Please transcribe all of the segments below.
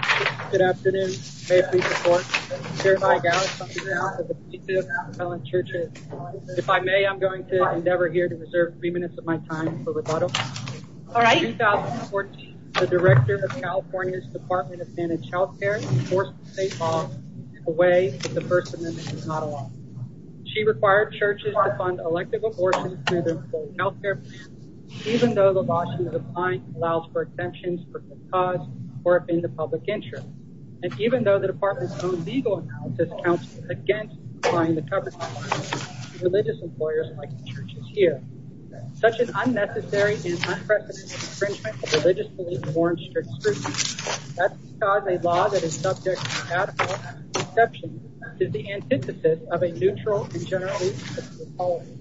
May 3, 2014, the Director of California's Department of Managed Health Care forced the state law to take away that the First Amendment is not a law. She required churches to fund elective abortions through their full health care plan, even though the law she is applying allows for exemptions from the cause or upend the public interest, and even though the Department's own legal analysis counts as against applying the cover-up to religious employers like the churches here. Such an unnecessary and unprecedented infringement of religious beliefs warrants strict scrutiny. That's because a law that is subject to radical exceptions is the antithesis of a neutral and generally acceptable policy.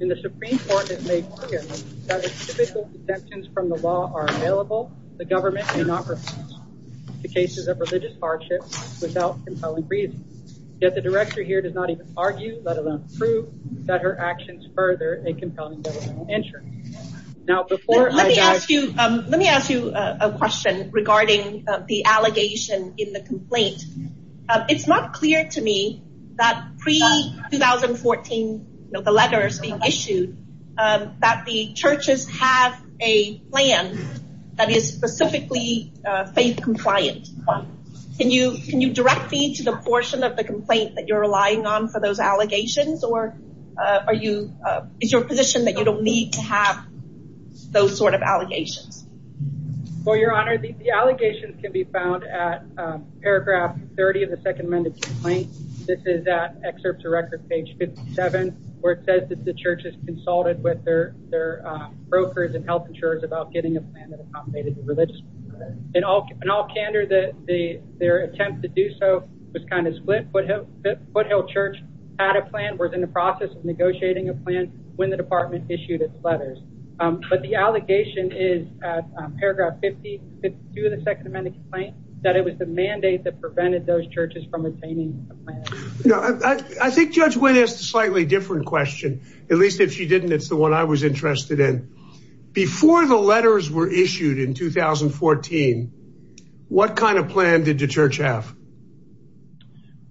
In the Supreme Court, it made clear that if typical exemptions from the law are available, the government may not refuse to cases of religious hardship without compelling reason. Yet the Director here does not even argue, let alone prove, that her actions further a compelling governmental interest. Let me ask you a question regarding the allegation in the complaint. It's not clear to me that pre-2014, the letters being issued, that the churches have a plan that is specifically faith compliant. Can you direct me to the portion of the complaint that you're relying on for those allegations, or is your position that you don't need to have those sort of allegations? Well, Your Honor, the allegations can be found at paragraph 30 of the Second Amendment complaint. This is at excerpts of record page 57, where it says that the churches consulted with their brokers and health insurers about getting a plan that accommodated the religious. In all candor, their attempt to do so was kind of split. Foothill Church had a plan, was in the process of negotiating a plan when the department issued its letters. But the allegation is at paragraph 52 of the Second Amendment complaint, that it was the mandate that prevented those churches from obtaining a plan. I think Judge Wynn asked a slightly different question. At least if she didn't, it's the one I was interested in. Before the letters were issued in 2014, what kind of plan did the church have?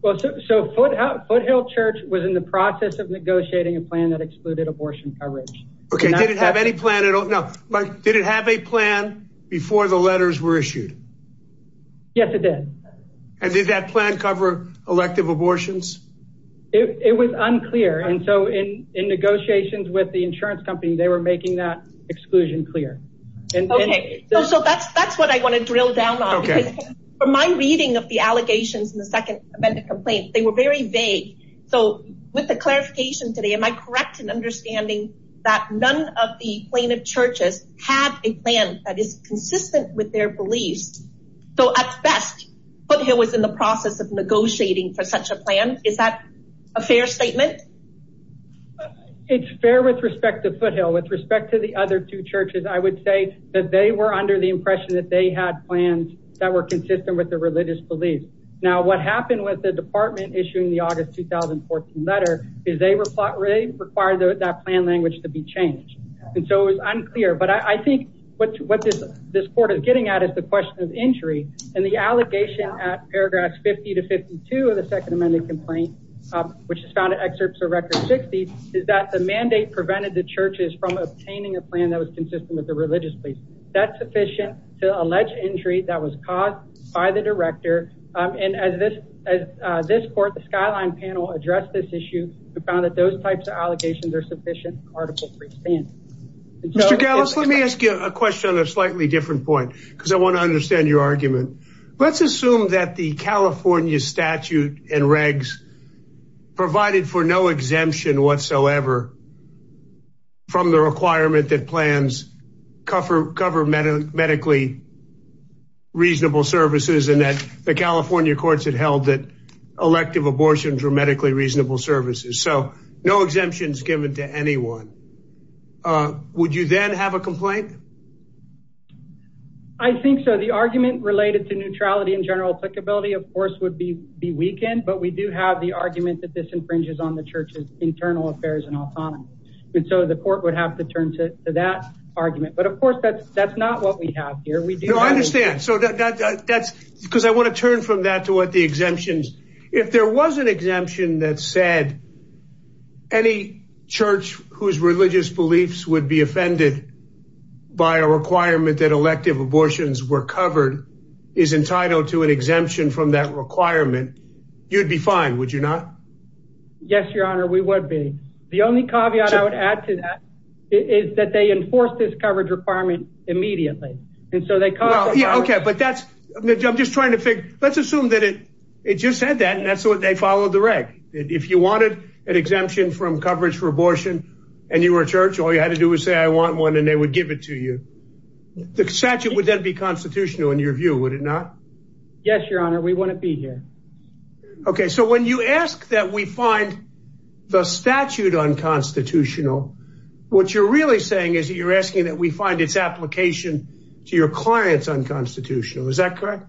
Well, so Foothill Church was in the process of negotiating a plan that excluded abortion coverage. Okay, did it have any plan at all? No. But did it have a plan before the letters were issued? Yes, it did. And did that plan cover elective abortions? It was unclear. And so in negotiations with the insurance company, they were making that exclusion clear. Okay, so that's what I want to drill down on. Okay. From my reading of the allegations in the Second Amendment complaint, they were very vague. So with the clarification today, am I correct in understanding that none of the plaintiff churches had a plan that is consistent with their beliefs? So at best, Foothill was in the process of negotiating for such a plan. Is that a fair statement? It's fair with respect to Foothill. With respect to the other two churches, I would say that they were under the impression that they had plans that were consistent with their religious beliefs. Now, what happened with the department issuing the August 2014 letter is they required that plan language to be changed. And so it was unclear. But I think what this court is getting at is the question of injury and the allegation at paragraphs 50 to 52 of the Second Amendment complaint, which is found in excerpts of Record 60, is that the mandate prevented the churches from obtaining a plan that was consistent with their religious beliefs. That's sufficient to allege injury that was caused by the director. And as this as this court, the Skyline panel addressed this issue, we found that those types of allegations are sufficient. Article three. Mr. Gallus, let me ask you a question on a slightly different point, because I want to understand your argument. Let's assume that the California statute and regs provided for no exemption whatsoever. From the requirement that plans cover cover medical medically reasonable services and that the California courts had held that elective abortions were medically reasonable services. So no exemptions given to anyone. Would you then have a complaint? I think so. The argument related to neutrality in general applicability, of course, would be be weakened. But we do have the argument that this infringes on the church's internal affairs and autonomy. And so the court would have to turn to that argument. But of course, that's that's not what we have here. We do understand. So that's because I want to turn from that to what the exemptions if there was an exemption that said. Any church whose religious beliefs would be offended by a requirement that elective abortions were covered is entitled to an exemption from that requirement. You'd be fine, would you not? Yes, your honor. We would be. The only caveat I would add to that is that they enforce this coverage requirement immediately. And so they can't. OK, but that's I'm just trying to think. Let's assume that it it just said that. And that's what they follow the reg. If you wanted an exemption from coverage for abortion and you were a church, all you had to do was say, I want one and they would give it to you. The statute would then be constitutional in your view, would it not? Yes, your honor. We want to be here. OK, so when you ask that we find the statute unconstitutional, what you're really saying is that you're asking that we find its application to your clients unconstitutional. Is that correct?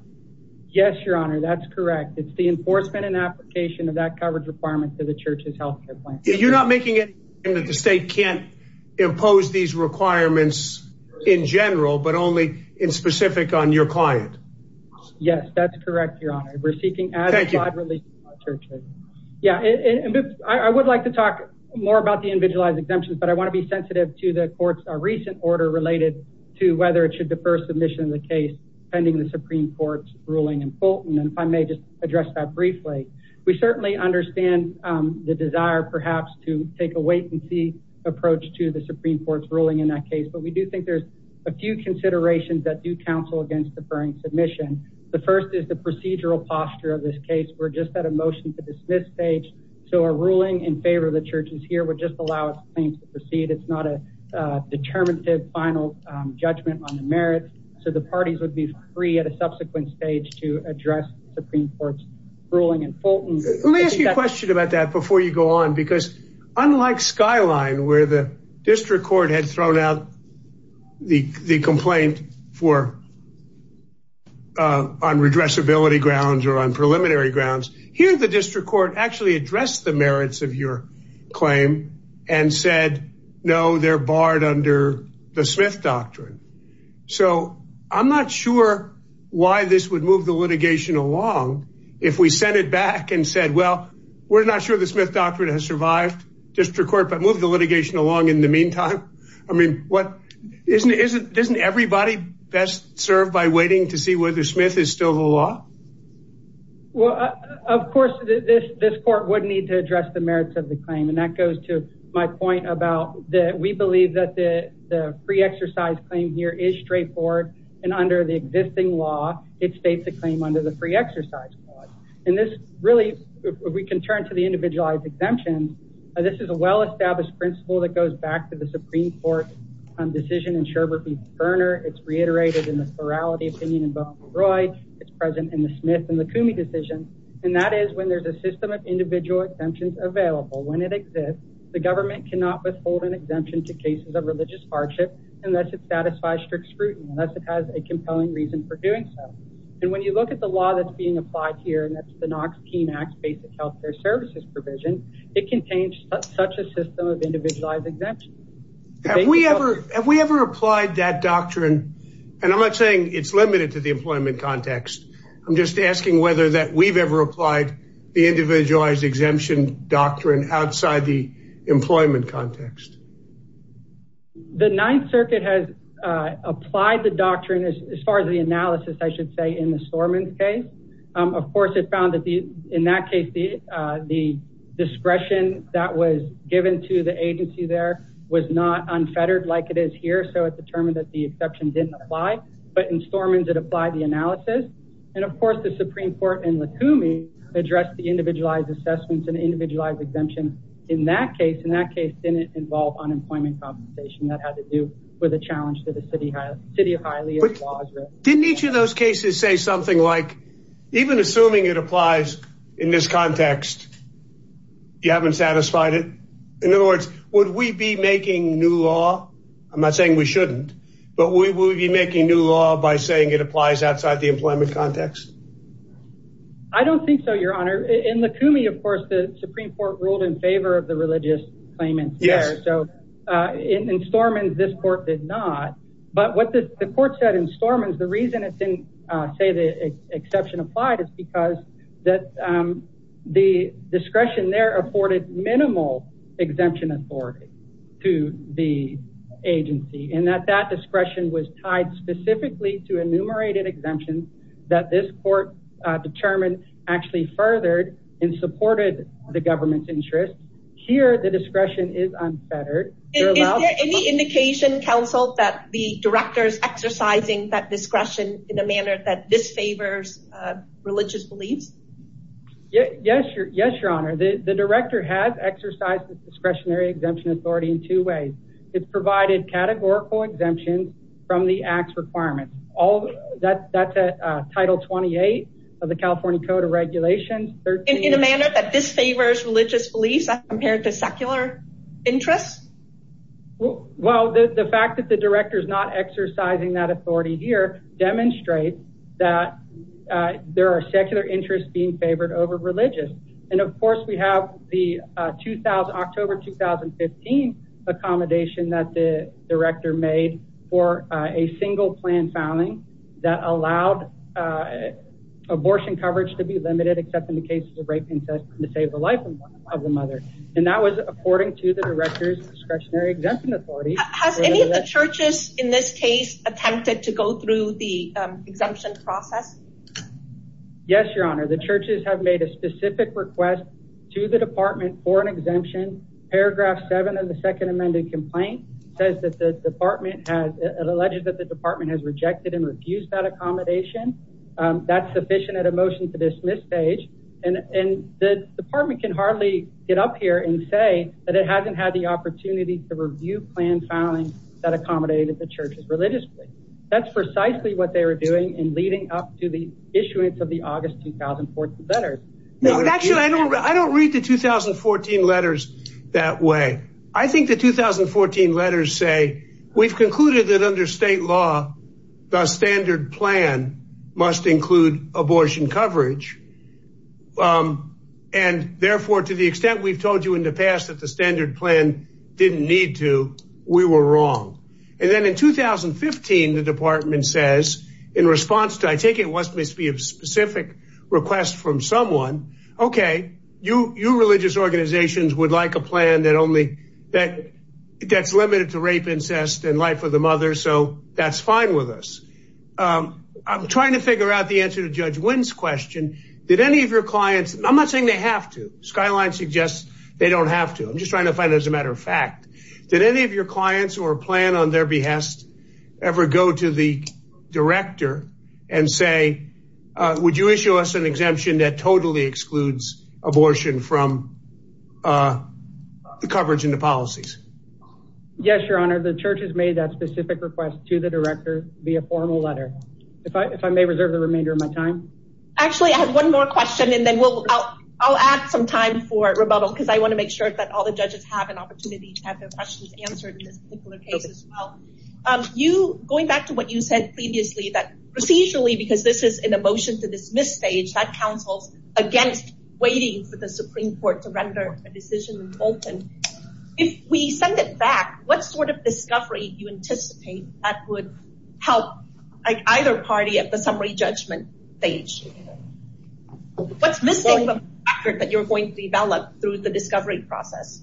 Yes, your honor. That's correct. It's the enforcement and application of that coverage requirement to the church's health care plan. You're not making it that the state can't impose these requirements in general, but only in specific on your client. Yes, that's correct. Your honor. We're seeking. Thank you. Yeah, I would like to talk more about the individualized exemptions, but I want to be sensitive to the courts. A recent order related to whether it should defer submission of the case pending the Supreme Court's ruling in Fulton. And if I may just address that briefly, we certainly understand the desire perhaps to take a wait and see approach to the Supreme Court's ruling in that case. But we do think there's a few considerations that do counsel against deferring submission. The first is the procedural posture of this case. We're just at a motion to dismiss stage. So a ruling in favor of the churches here would just allow things to proceed. It's not a determinative final judgment on the merits. So the parties would be free at a subsequent stage to address the Supreme Court's ruling in Fulton. Let me ask you a question about that before you go on, because unlike Skyline, where the district court had thrown out the complaint for. On redress ability grounds or on preliminary grounds here, the district court actually addressed the merits of your claim and said, no, they're barred under the Smith doctrine. So I'm not sure why this would move the litigation along if we sent it back and said, well, we're not sure the Smith doctrine has survived district court, but move the litigation along in the meantime. I mean, what is it? Isn't everybody best served by waiting to see whether Smith is still the law? Well, of course, this this court would need to address the merits of the claim. And that goes to my point about that. We believe that the free exercise claim here is straightforward. And under the existing law, it states a claim under the free exercise. And this really we can turn to the individualized exemptions. This is a well-established principle that goes back to the Supreme Court decision in Sherbert v. Boehner. It's reiterated in the plurality opinion in Boehner v. Roy. It's present in the Smith and the Coomey decision. And that is when there's a system of individual exemptions available when it exists. The government cannot withhold an exemption to cases of religious hardship unless it satisfies strict scrutiny, unless it has a compelling reason for doing so. And when you look at the law that's being applied here, and that's the Knox Keene Act, basic health care services provision, it contains such a system of individualized exemptions. Have we ever have we ever applied that doctrine? And I'm not saying it's limited to the employment context. I'm just asking whether that we've ever applied the individualized exemption doctrine outside the employment context. The Ninth Circuit has applied the doctrine as far as the analysis, I should say, in the Sormans case. Of course, it found that in that case, the discretion that was given to the agency there was not unfettered like it is here. So it determined that the exception didn't apply. But in Sormans, it applied the analysis. And, of course, the Supreme Court in the Coumey addressed the individualized assessments and individualized exemption in that case. And that case didn't involve unemployment compensation. That had to do with a challenge to the city, city of Hialeah. Didn't each of those cases say something like even assuming it applies in this context? You haven't satisfied it. In other words, would we be making new law? I'm not saying we shouldn't, but we will be making new law by saying it applies outside the employment context. I don't think so, Your Honor. In the Coumey, of course, the Supreme Court ruled in favor of the religious claimants. So in Sormans, this court did not. But what the court said in Sormans, the reason it didn't say the exception applied, is because that the discretion there afforded minimal exemption authority to the agency. And that that discretion was tied specifically to enumerated exemptions that this court determined actually furthered and supported the government's interest. Here, the discretion is unfettered. Is there any indication, Counsel, that the director is exercising that discretion in a manner that disfavors religious beliefs? Yes. Yes, Your Honor. The director has exercised discretionary exemption authority in two ways. It's provided categorical exemptions from the act's requirements. That's a Title 28 of the California Code of Regulations. In a manner that disfavors religious beliefs as compared to secular interests? Well, the fact that the director is not exercising that authority here demonstrates that there are secular interests being favored over religious. And of course, we have the October 2015 accommodation that the director made for a single plan filing that allowed abortion coverage to be limited, except in the case of rape and incest, to save the life of the mother. And that was according to the director's discretionary exemption authority. Has any of the churches in this case attempted to go through the exemption process? Yes, Your Honor. The churches have made a specific request to the department for an exemption. Paragraph 7 of the second amended complaint says that the department has alleged that the department has rejected and refused that accommodation. That's sufficient at a motion to dismiss page. And the department can hardly get up here and say that it hasn't had the opportunity to review plan filing that accommodated the churches religiously. That's precisely what they were doing in leading up to the issuance of the August 2014 letters. Actually, I don't read the 2014 letters that way. I think the 2014 letters say we've concluded that under state law, the standard plan must include abortion coverage. And therefore, to the extent we've told you in the past that the standard plan didn't need to, we were wrong. And then in 2015, the department says in response to I take it must be a specific request from someone. OK, you religious organizations would like a plan that only that that's limited to rape, incest and life of the mother. So that's fine with us. I'm trying to figure out the answer to Judge Wynn's question. Did any of your clients. I'm not saying they have to. Skyline suggests they don't have to. I'm just trying to find as a matter of fact. Did any of your clients or plan on their behest ever go to the director and say, would you issue us an exemption that totally excludes abortion from the coverage in the policies? Yes, your honor. The church has made that specific request to the director via formal letter. If I if I may reserve the remainder of my time. Actually, I have one more question and then we'll I'll add some time for rebuttal because I want to make sure that all the judges have an opportunity to have their questions answered in this particular case as well. You going back to what you said previously that procedurally, because this is an emotion to dismiss stage that counsels against waiting for the Supreme Court to render a decision. If we send it back, what sort of discovery you anticipate that would help either party at the summary judgment stage? What's missing that you're going to develop through the discovery process?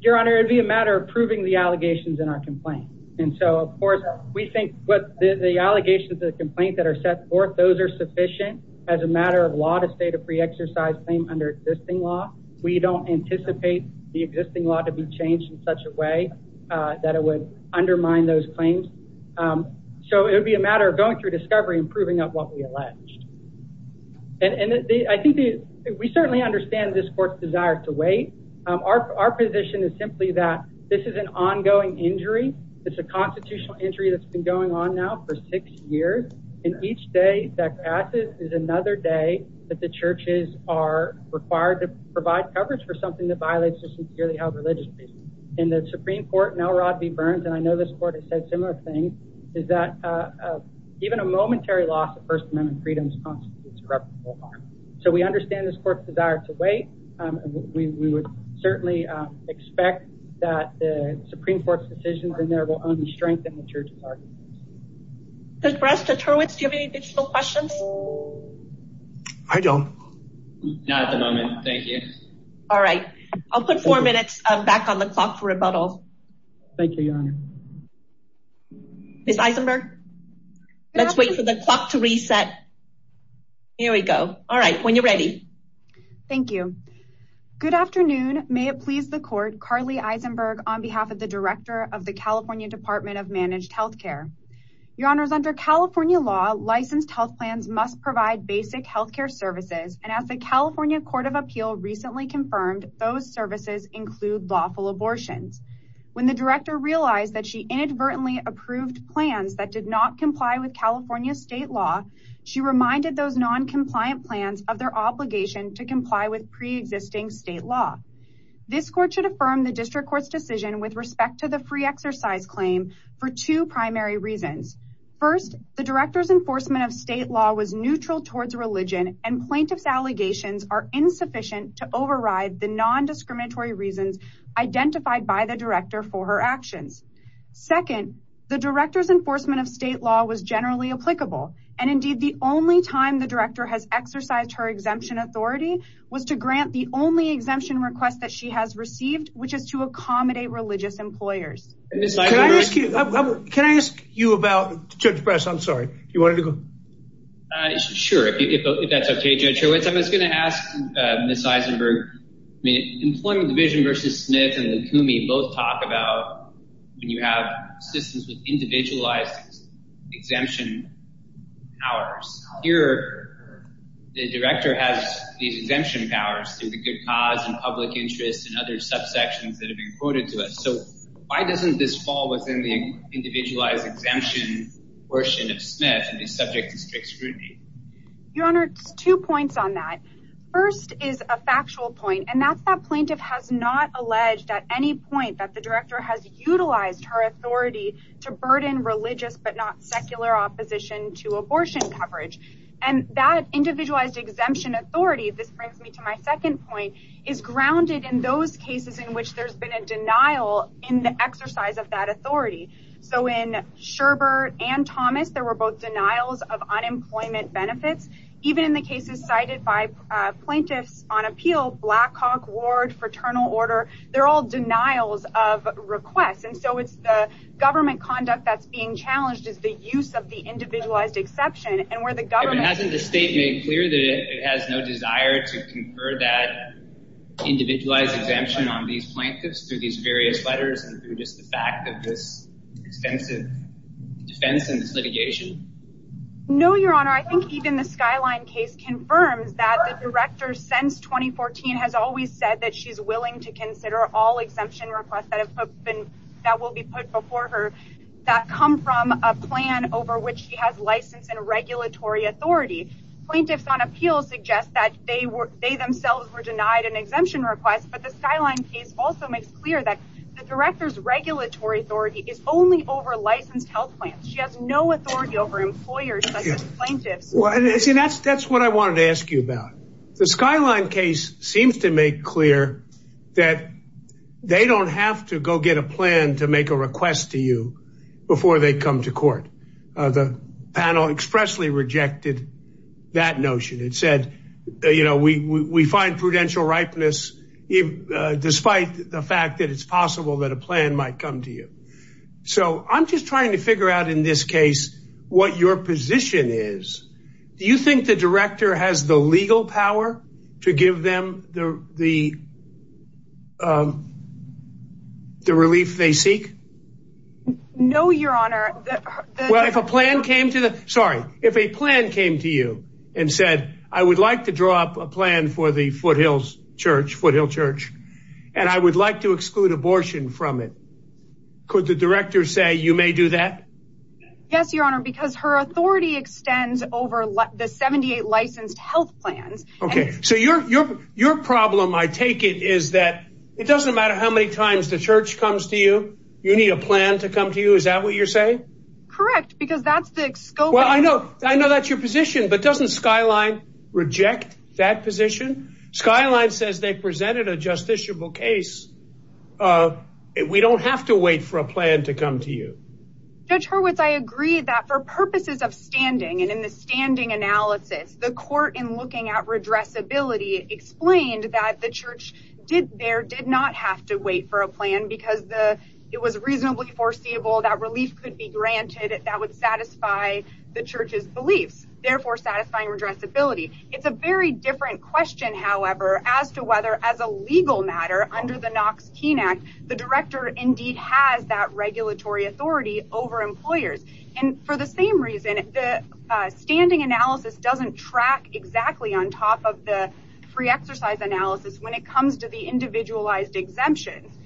Your honor, it'd be a matter of proving the allegations in our complaint. And so, of course, we think what the allegations of the complaint that are set forth, those are sufficient as a matter of a lot of state of free exercise under existing law. We don't anticipate the existing law to be changed in such a way that it would undermine those claims. So it would be a matter of going through discovery and proving up what we alleged. And I think we certainly understand this court's desire to wait. Our position is simply that this is an ongoing injury. It's a constitutional injury that's been going on now for six years. And each day that passes is another day that the churches are required to provide coverage for something that violates a sincerely held religious. And the Supreme Court now Rodney Burns. And I know this court has said similar things. Is that even a momentary loss of First Amendment freedoms? So we understand this court's desire to wait. We would certainly expect that the Supreme Court's decisions in there will only strengthen the church's arguments. Judge Brest, Judge Hurwitz, do you have any additional questions? I don't. Not at the moment. Thank you. All right. I'll put four minutes back on the clock for rebuttal. Thank you, Your Honor. Ms. Eisenberg, let's wait for the clock to reset. Here we go. All right. When you're ready. Thank you. Good afternoon. May it please the court. Carly Eisenberg on behalf of the director of the California Department of Managed Health Care. Your Honor is under California law. Licensed health plans must provide basic health care services. And as the California Court of Appeal recently confirmed, those services include lawful abortions. When the director realized that she inadvertently approved plans that did not comply with California state law. She reminded those non-compliant plans of their obligation to comply with pre-existing state law. This court should affirm the district court's decision with respect to the free exercise claim for two primary reasons. First, the director's enforcement of state law was neutral towards religion. And plaintiff's allegations are insufficient to override the non-discriminatory reasons identified by the director for her actions. Second, the director's enforcement of state law was generally applicable. And indeed, the only time the director has exercised her exemption authority was to grant the only exemption request that she has received, which is to accommodate religious employers. Can I ask you about Judge Press? I'm sorry. You wanted to go? Sure. If that's okay, Judge Hurwitz. I was going to ask Ms. Eisenberg. Employment Division versus Smith and the CUME both talk about when you have systems with individualized exemption powers. Here, the director has these exemption powers through the good cause and public interest and other subsections that have been quoted to us. So why doesn't this fall within the individualized exemption portion of Smith and be subject to strict scrutiny? Your Honor, two points on that. First is a factual point, and that's that plaintiff has not alleged at any point that the director has utilized her authority to burden religious but not secular opposition to abortion coverage. And that individualized exemption authority, this brings me to my second point, is grounded in those cases in which there's been a denial in the exercise of that authority. So in Sherbert and Thomas, there were both denials of unemployment benefits. Even in the cases cited by plaintiffs on appeal, Blackhawk Ward, Fraternal Order, they're all denials of requests. And so it's the government conduct that's being challenged is the use of the individualized exception. But hasn't the state made clear that it has no desire to confer that individualized exemption on these plaintiffs through these various letters and through just the fact of this extensive defense and litigation? No, Your Honor. I think even the Skyline case confirms that the director, since 2014, has always said that she's willing to consider all exemption requests that will be put before her that come from a plan over which she has license and regulatory authority. Plaintiffs on appeal suggest that they themselves were denied an exemption request, but the Skyline case also makes clear that the director's regulatory authority is only over licensed health plans. She has no authority over employers such as plaintiffs. That's what I wanted to ask you about. The Skyline case seems to make clear that they don't have to go get a plan to make a request to you before they come to court. The panel expressly rejected that notion. It said, you know, we find prudential ripeness despite the fact that it's possible that a plan might come to you. So I'm just trying to figure out in this case what your position is. Do you think the director has the legal power to give them the relief they seek? No, Your Honor. Well, if a plan came to the sorry, if a plan came to you and said, I would like to draw up a plan for the Foothills Church, Foothill Church, and I would like to exclude abortion from it. Could the director say you may do that? Yes, Your Honor, because her authority extends over the 78 licensed health plans. OK, so your your your problem, I take it, is that it doesn't matter how many times the church comes to you. You need a plan to come to you. Is that what you're saying? Correct, because that's the scope. Well, I know I know that's your position, but doesn't Skyline reject that position? Skyline says they presented a justiciable case. We don't have to wait for a plan to come to you. Judge Hurwitz, I agree that for purposes of standing and in the standing analysis, the court in looking at redress ability explained that the church did there did not have to wait for a plan because the it was reasonably foreseeable that relief could be granted that would satisfy the church's beliefs, therefore satisfying redress ability. It's a very different question, however, as to whether as a legal matter under the Knox Keene Act, the director indeed has that regulatory authority over employers. And for the same reason, the standing analysis doesn't track exactly on top of the free exercise analysis when it comes to the individualized exemptions.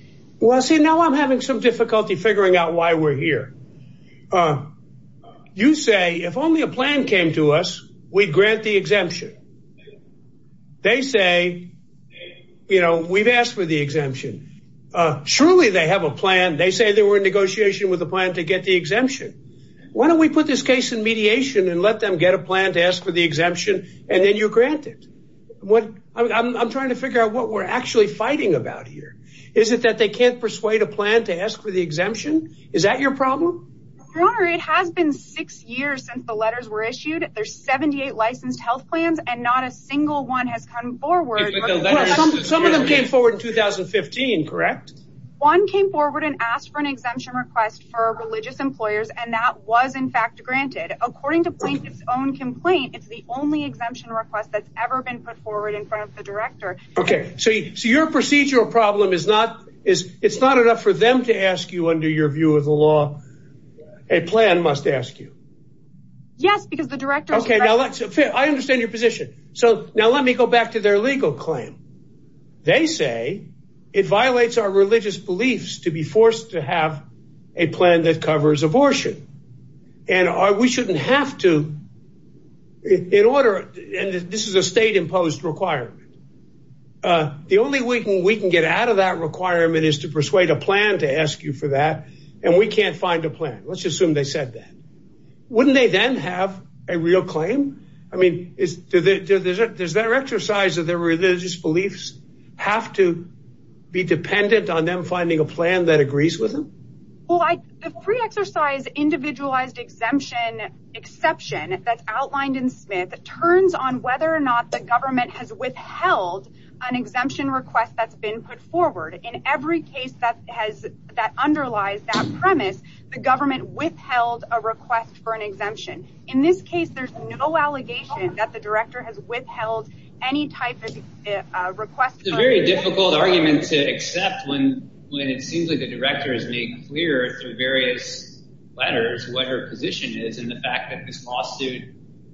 Well, see, now I'm having some difficulty figuring out why we're here. You say if only a plan came to us, we'd grant the exemption. They say, you know, we've asked for the exemption. Surely they have a plan. They say they were in negotiation with a plan to get the exemption. Why don't we put this case in mediation and let them get a plan to ask for the exemption? And then you're granted what I'm trying to figure out what we're actually fighting about here. Is it that they can't persuade a plan to ask for the exemption? Is that your problem? Your Honor, it has been six years since the letters were issued. There's 78 licensed health plans and not a single one has come forward. Some of them came forward in 2015, correct? One came forward and asked for an exemption request for religious employers, and that was in fact granted. According to Plaintiff's own complaint, it's the only exemption request that's ever been put forward in front of the director. So your procedural problem is it's not enough for them to ask you under your view of the law. A plan must ask you. Yes, because the director. I understand your position. So now let me go back to their legal claim. They say it violates our religious beliefs to be forced to have a plan that covers abortion. And we shouldn't have to. In order. This is a state imposed requirement. The only way we can get out of that requirement is to persuade a plan to ask you for that. And we can't find a plan. Let's assume they said that. Wouldn't they then have a real claim? I mean, is that there's that exercise of their religious beliefs have to be dependent on them finding a plan that agrees with them? The free exercise individualized exemption exception that's outlined in Smith turns on whether or not the government has withheld an exemption request that's been put forward. In every case that has that underlies that premise, the government withheld a request for an exemption. In this case, there's no allegation that the director has withheld any type of request. It's a very difficult argument to accept when when it seems like the director has made clear through various letters what her position is in the fact that this lawsuit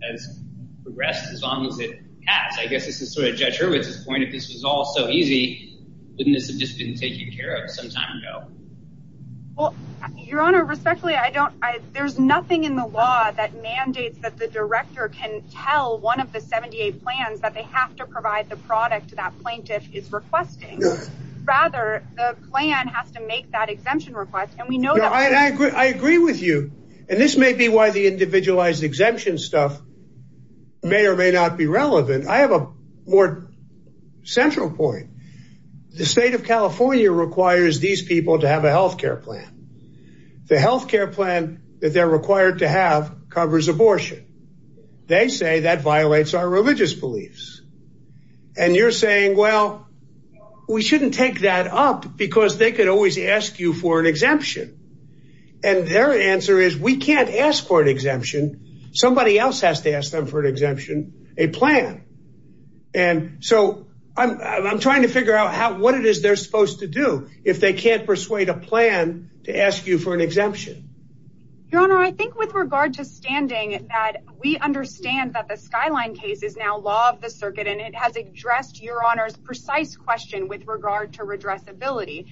has progressed as long as it has. I guess this is sort of Judge Hurwitz's point. If this was all so easy, wouldn't this have just been taken care of some time ago? Your Honor, respectfully, I don't. There's nothing in the law that mandates that the director can tell one of the 78 plans that they have to provide the product to that plaintiff is requesting. Rather, the plan has to make that exemption request. And we know I agree. I agree with you. And this may be why the individualized exemption stuff may or may not be relevant. I have a more central point. The state of California requires these people to have a health care plan. The health care plan that they're required to have covers abortion. They say that violates our religious beliefs. And you're saying, well, we shouldn't take that up because they could always ask you for an exemption. And their answer is we can't ask for an exemption. Somebody else has to ask them for an exemption, a plan. And so I'm trying to figure out what it is they're supposed to do if they can't persuade a plan to ask you for an exemption. Your Honor, I think with regard to standing that we understand that the skyline case is now law of the circuit. And it has addressed your honor's precise question with regard to redress ability.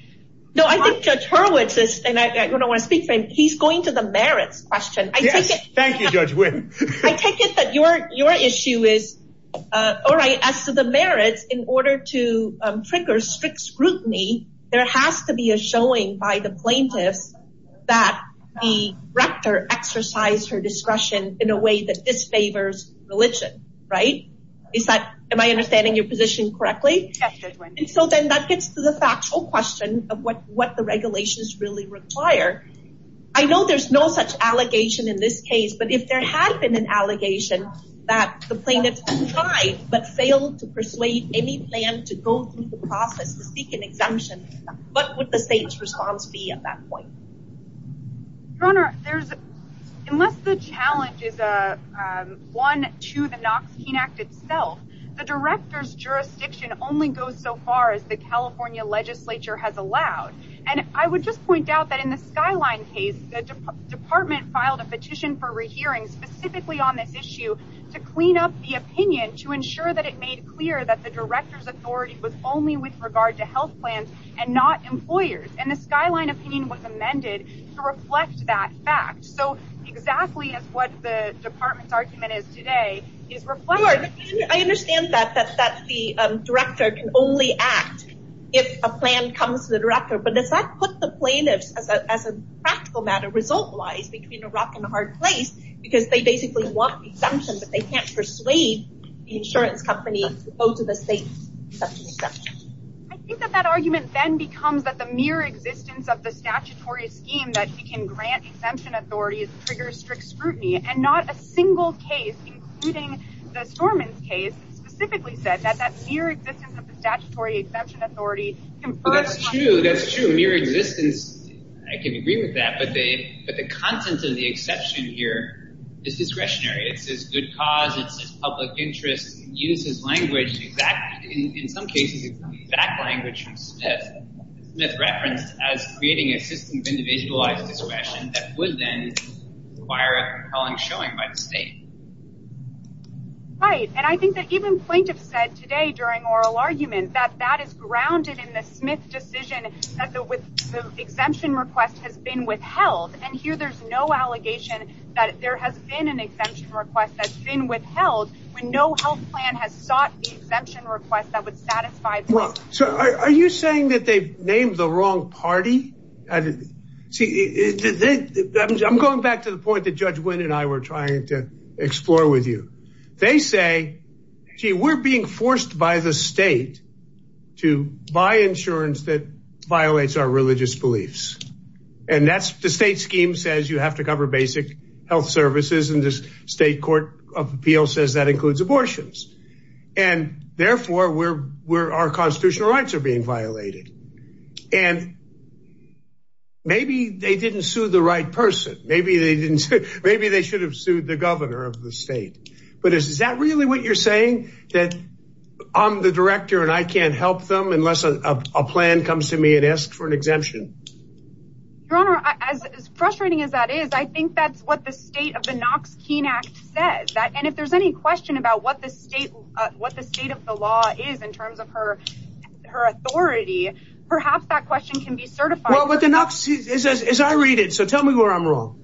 No, I think Judge Hurwitz is and I don't want to speak for him. He's going to the merits question. Thank you, Judge. I take it that your your issue is all right. As to the merits, in order to trigger strict scrutiny, there has to be a showing by the plaintiffs that the rector exercise her discretion in a way that disfavors religion. Right. Is that my understanding your position correctly? And so then that gets to the factual question of what what the regulations really require. I know there's no such allegation in this case, but if there had been an allegation that the plaintiffs tried but failed to persuade any plan to go through the process to seek an exemption. What would the state's response be at that point? Your Honor, there's unless the challenge is a one to the Knox King Act itself. The director's jurisdiction only goes so far as the California legislature has allowed. And I would just point out that in the skyline case, the department filed a petition for rehearing specifically on this issue to clean up the opinion to ensure that it made clear that the director's authority was only with regard to health plans and not employers. And the skyline opinion was amended to reflect that fact. So exactly as what the department's argument is today is reflected. I understand that the director can only act if a plan comes to the director. But does that put the plaintiffs as a practical matter result wise between a rock and a hard place? Because they basically want exemption, but they can't persuade the insurance company to go to the state. I think that that argument then becomes that the mere existence of the statutory scheme that he can grant exemption authorities triggers strict scrutiny and not a single case, including the Stormont case specifically said that that mere existence of the statutory exemption authority. That's true. That's true. Mere existence. I can agree with that. But the content of the exception here is discretionary. It's as good cause. It's public interest uses language. In some cases, exact language from Smith referenced as creating a system of individualized discretion that would then require a showing by the state. Right. And I think that even plaintiffs said today during oral argument that that is grounded in the Smith decision that the exemption request has been withheld. And here there's no allegation that there has been an exemption request that's been withheld when no health plan has sought the exemption request that would satisfy. So are you saying that they've named the wrong party? See, I'm going back to the point that Judge Wynn and I were trying to explore with you. They say, gee, we're being forced by the state to buy insurance that violates our religious beliefs. And that's the state scheme says you have to cover basic health services. And this state court of appeal says that includes abortions. And therefore, we're we're our constitutional rights are being violated. And maybe they didn't sue the right person. Maybe they didn't. Maybe they should have sued the governor of the state. But is that really what you're saying that I'm the director and I can't help them unless a plan comes to me and ask for an exemption? Your Honor, as frustrating as that is, I think that's what the state of the Knox Keene Act says that. And if there's any question about what the state what the state of the law is in terms of her, her authority, perhaps that question can be certified. Well, what the Knox is, as I read it. So tell me where I'm wrong.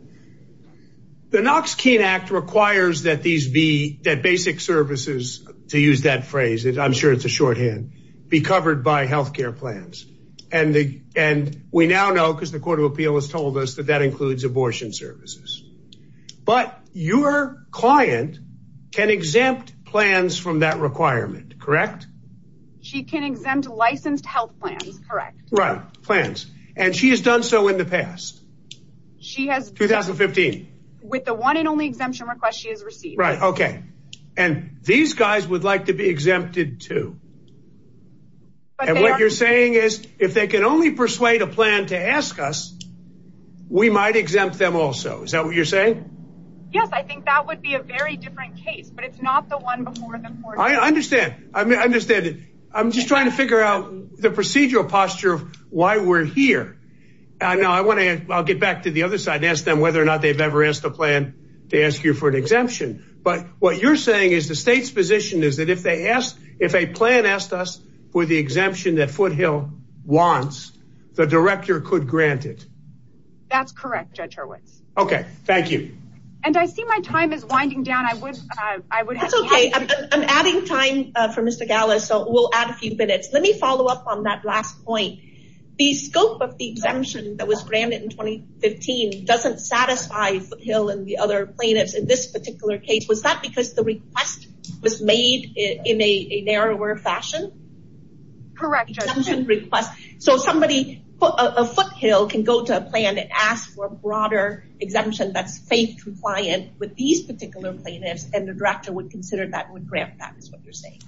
The Knox Keene Act requires that these be that basic services, to use that phrase, I'm sure it's a shorthand, be covered by health care plans. And the and we now know because the court of appeal has told us that that includes abortion services. But your client can exempt plans from that requirement. Correct. She can exempt licensed health plans. Correct. Right. Plans. And she has done so in the past. She has 2015 with the one and only exemption request she has received. Right. OK. And these guys would like to be exempted, too. But what you're saying is if they can only persuade a plan to ask us, we might exempt them also. Is that what you're saying? Yes, I think that would be a very different case, but it's not the one before the court. I understand. I understand. I'm just trying to figure out the procedural posture of why we're here. I know I want to get back to the other side, ask them whether or not they've ever asked a plan to ask you for an exemption. But what you're saying is the state's position is that if they ask, if a plan asked us for the exemption that Foothill wants, the director could grant it. That's correct. Judge Hurwitz. OK, thank you. And I see my time is winding down. I would I would say I'm adding time for Mr. Gallo. So we'll add a few minutes. Let me follow up on that last point. The scope of the exemption that was granted in 2015 doesn't satisfy Hill and the other plaintiffs. In this particular case, was that because the request was made in a narrower fashion? Correct. So somebody put a foothill can go to a plan to ask for a broader exemption that's faith compliant with these particular plaintiffs. And the director would consider that would grant that is what you're saying.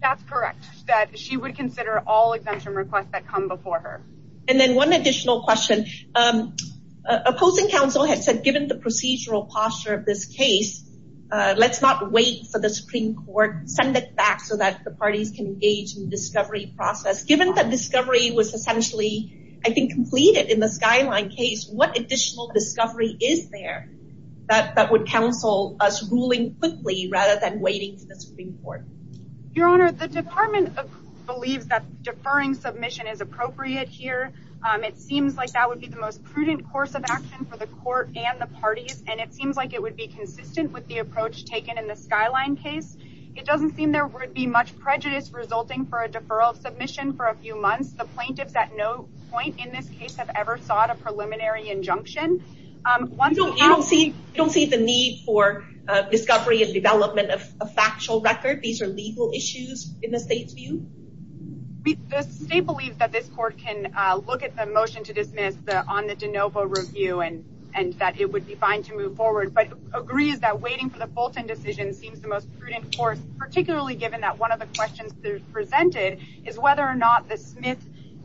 That's correct. That she would consider all exemption requests that come before her. And then one additional question. Opposing counsel had said, given the procedural posture of this case, let's not wait for the Supreme Court. Send it back so that the parties can engage in the discovery process. Given that discovery was essentially, I think, completed in the skyline case. What additional discovery is there that would counsel us ruling quickly rather than waiting for the Supreme Court? Your Honor, the department believes that deferring submission is appropriate here. It seems like that would be the most prudent course of action for the court and the parties. And it seems like it would be consistent with the approach taken in the skyline case. It doesn't seem there would be much prejudice resulting for a deferral submission for a few months. The plaintiffs at no point in this case have ever sought a preliminary injunction. You don't see the need for discovery and development of a factual record. These are legal issues in the state's view. The state believes that this court can look at the motion to dismiss on the de novo review and that it would be fine to move forward. But agrees that waiting for the Fulton decision seems the most prudent course, particularly given that one of the questions presented is whether or not the Smith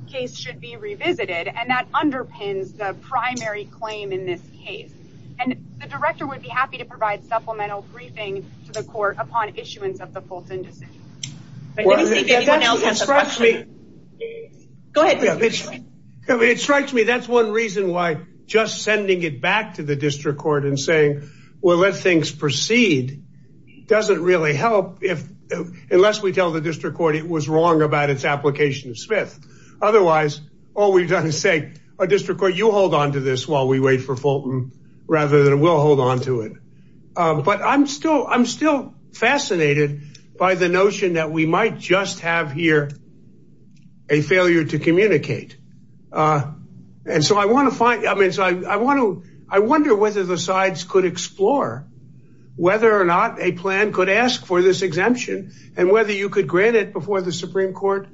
case should be revisited. And that underpins the primary claim in this case. And the director would be happy to provide supplemental briefing to the court upon issuance of the Fulton decision. It strikes me that's one reason why just sending it back to the district court and saying, well, let things proceed. Doesn't really help if unless we tell the district court it was wrong about its application of Smith. Otherwise, all we've done is say a district court, you hold on to this while we wait for Fulton rather than we'll hold on to it. But I'm still I'm still fascinated by the notion that we might just have here a failure to communicate. And so I want to find I mean, I want to I wonder whether the sides could explore whether or not a plan could ask for this exemption and whether you could grant it before the Supreme Court.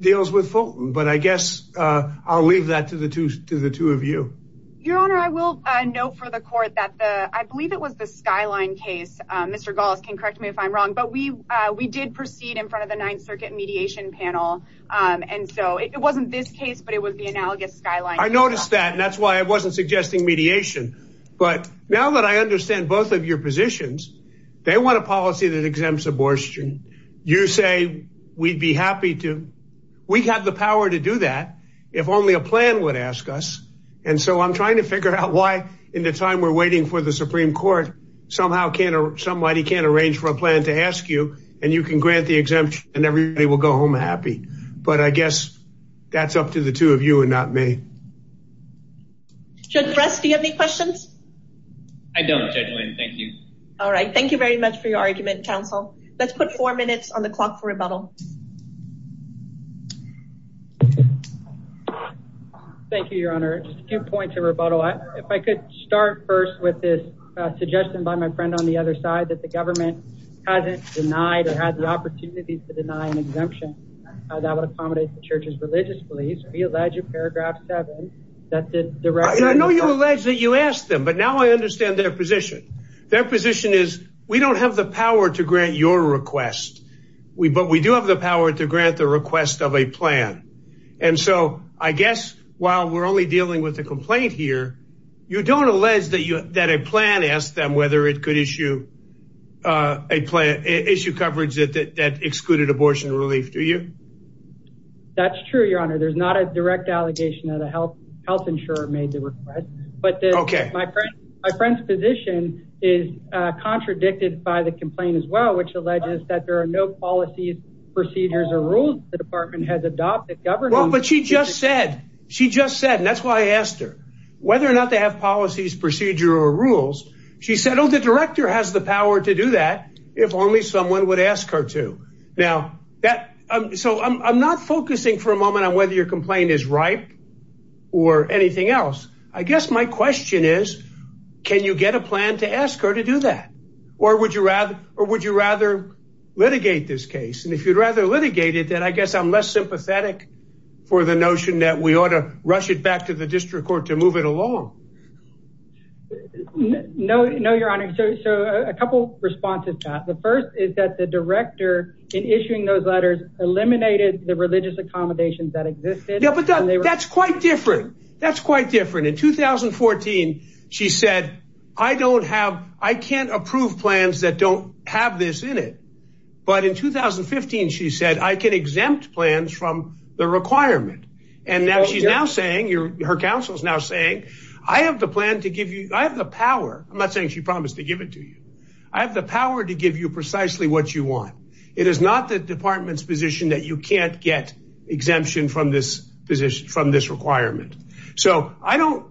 Deals with Fulton. But I guess I'll leave that to the two to the two of you. Your Honor, I will note for the court that I believe it was the skyline case. Mr. Goss can correct me if I'm wrong, but we we did proceed in front of the Ninth Circuit mediation panel. And so it wasn't this case, but it was the analogous skyline. I noticed that and that's why I wasn't suggesting mediation. But now that I understand both of your positions, they want a policy that exempts abortion. You say we'd be happy to. We have the power to do that if only a plan would ask us. And so I'm trying to figure out why in the time we're waiting for the Supreme Court somehow can't or somebody can't arrange for a plan to ask you and you can grant the exemption and everybody will go home happy. But I guess that's up to the two of you and not me. Should rest. Do you have any questions? I don't. Thank you. All right. Thank you very much for your argument, counsel. Let's put four minutes on the clock for rebuttal. Thank you, Your Honor. Just a few points of rebuttal. If I could start first with this suggestion by my friend on the other side that the government hasn't denied or had the opportunity to deny an exemption that would accommodate the church's religious beliefs. I know you allege that you asked them, but now I understand their position. Their position is we don't have the power to grant your request. We but we do have the power to grant the request of a plan. And so I guess while we're only dealing with the complaint here, you don't allege that you that a plan asked them whether it could issue a plan issue coverage that excluded abortion relief to you. That's true, Your Honor. There's not a direct allegation of the health health insurer made the request. But OK, my friend, my friend's position is contradicted by the complaint as well, which alleges that there are no policies, procedures or rules. The department has adopted government. But she just said she just said. And that's why I asked her whether or not they have policies, procedure or rules. She said, oh, the director has the power to do that. If only someone would ask her to. Now that I'm so I'm not focusing for a moment on whether your complaint is right or anything else. I guess my question is, can you get a plan to ask her to do that or would you rather or would you rather litigate this case? And if you'd rather litigate it, then I guess I'm less sympathetic for the notion that we ought to rush it back to the district court to move it along. No, no, Your Honor. So a couple responses. The first is that the director in issuing those letters eliminated the religious accommodations that existed. Yeah, but that's quite different. That's quite different. In 2014, she said, I don't have I can't approve plans that don't have this in it. But in 2015, she said, I can exempt plans from the requirement. And now she's now saying her counsel is now saying, I have the plan to give you I have the power. I'm not saying she promised to give it to you. I have the power to give you precisely what you want. It is not the department's position that you can't get exemption from this position from this requirement. So I don't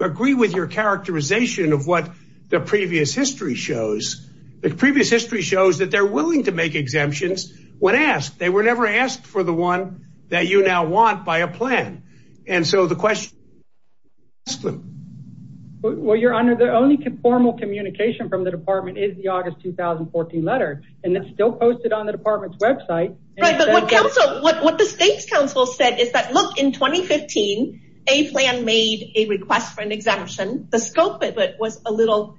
agree with your characterization of what the previous history shows. The previous history shows that they're willing to make exemptions when asked. They were never asked for the one that you now want by a plan. And so the question. Well, Your Honor, the only formal communication from the department is the August 2014 letter. And it's still posted on the department's Web site. But what counsel what the state's counsel said is that, look, in 2015, a plan made a request for an exemption. The scope of it was a little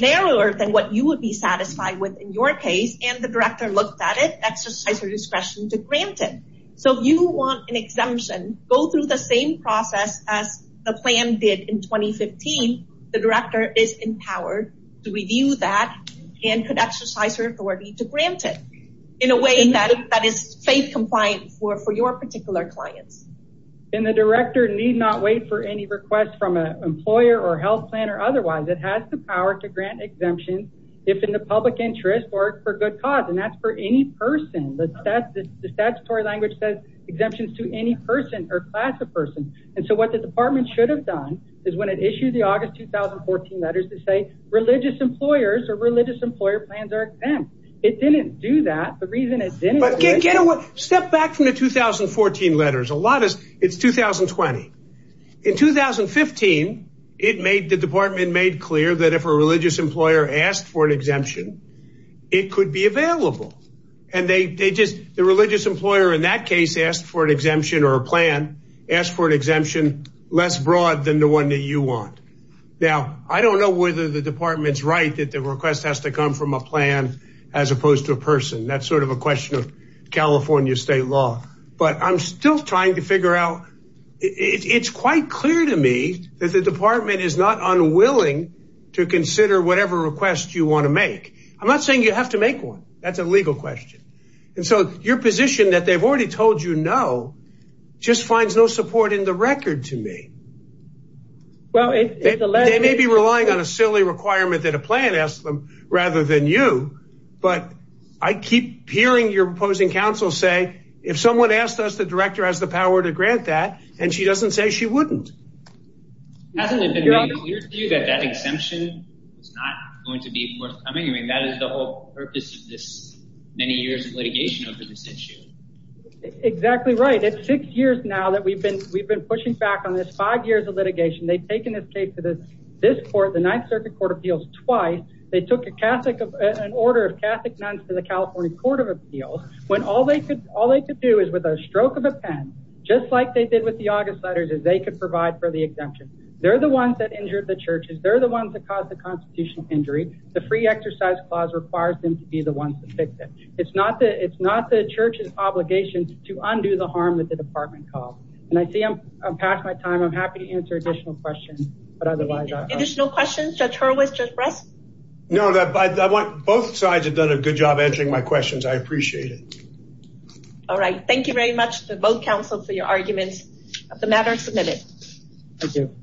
narrower than what you would be satisfied with in your case. And the director looked at it, exercised her discretion to grant it. So if you want an exemption, go through the same process as the plan did in 2015. The director is empowered to review that and could exercise her authority to grant it in a way that is faith compliant for your particular clients. And the director need not wait for any request from an employer or health plan or otherwise. It has the power to grant exemptions if in the public interest or for good cause. And that's for any person that says the statutory language says exemptions to any person or class of person. And so what the department should have done is when it issued the August 2014 letters to say religious employers or religious employer plans are exempt. It didn't do that. The reason it didn't get a step back from the 2014 letters. A lot is it's 2020. In 2015, it made the department made clear that if a religious employer asked for an exemption, it could be available. And they just the religious employer in that case asked for an exemption or a plan asked for an exemption less broad than the one that you want. Now, I don't know whether the department's right that the request has to come from a plan as opposed to a person. That's sort of a question of California state law. But I'm still trying to figure out. It's quite clear to me that the department is not unwilling to consider whatever request you want to make. I'm not saying you have to make one. That's a legal question. And so your position that they've already told, you know, just finds no support in the record to me. Well, they may be relying on a silly requirement that a plan asked them rather than you. But I keep hearing your opposing counsel say if someone asked us, the director has the power to grant that. And she doesn't say she wouldn't. Hasn't it been clear to you that that exemption is not going to be forthcoming? I mean, that is the whole purpose of this many years of litigation over this issue. Exactly right. It's six years now that we've been we've been pushing back on this five years of litigation. They've taken this case to this court, the Ninth Circuit Court of Appeals twice. They took a Catholic, an order of Catholic nuns to the California Court of Appeals when all they could all they could do is with a stroke of a pen, just like they did with the August letters, is they could provide for the exemption. They're the ones that injured the churches. They're the ones that caused the constitutional injury. The free exercise clause requires them to be the ones that fix it. It's not the it's not the church's obligation to undo the harm that the department caused. And I see I'm past my time. I'm happy to answer additional questions. But otherwise, there's no questions. Judge Hurwitz, Judge Bress. No, I want both sides have done a good job answering my questions. I appreciate it. All right. Thank you very much. The vote council for your arguments of the matter submitted. Thank you.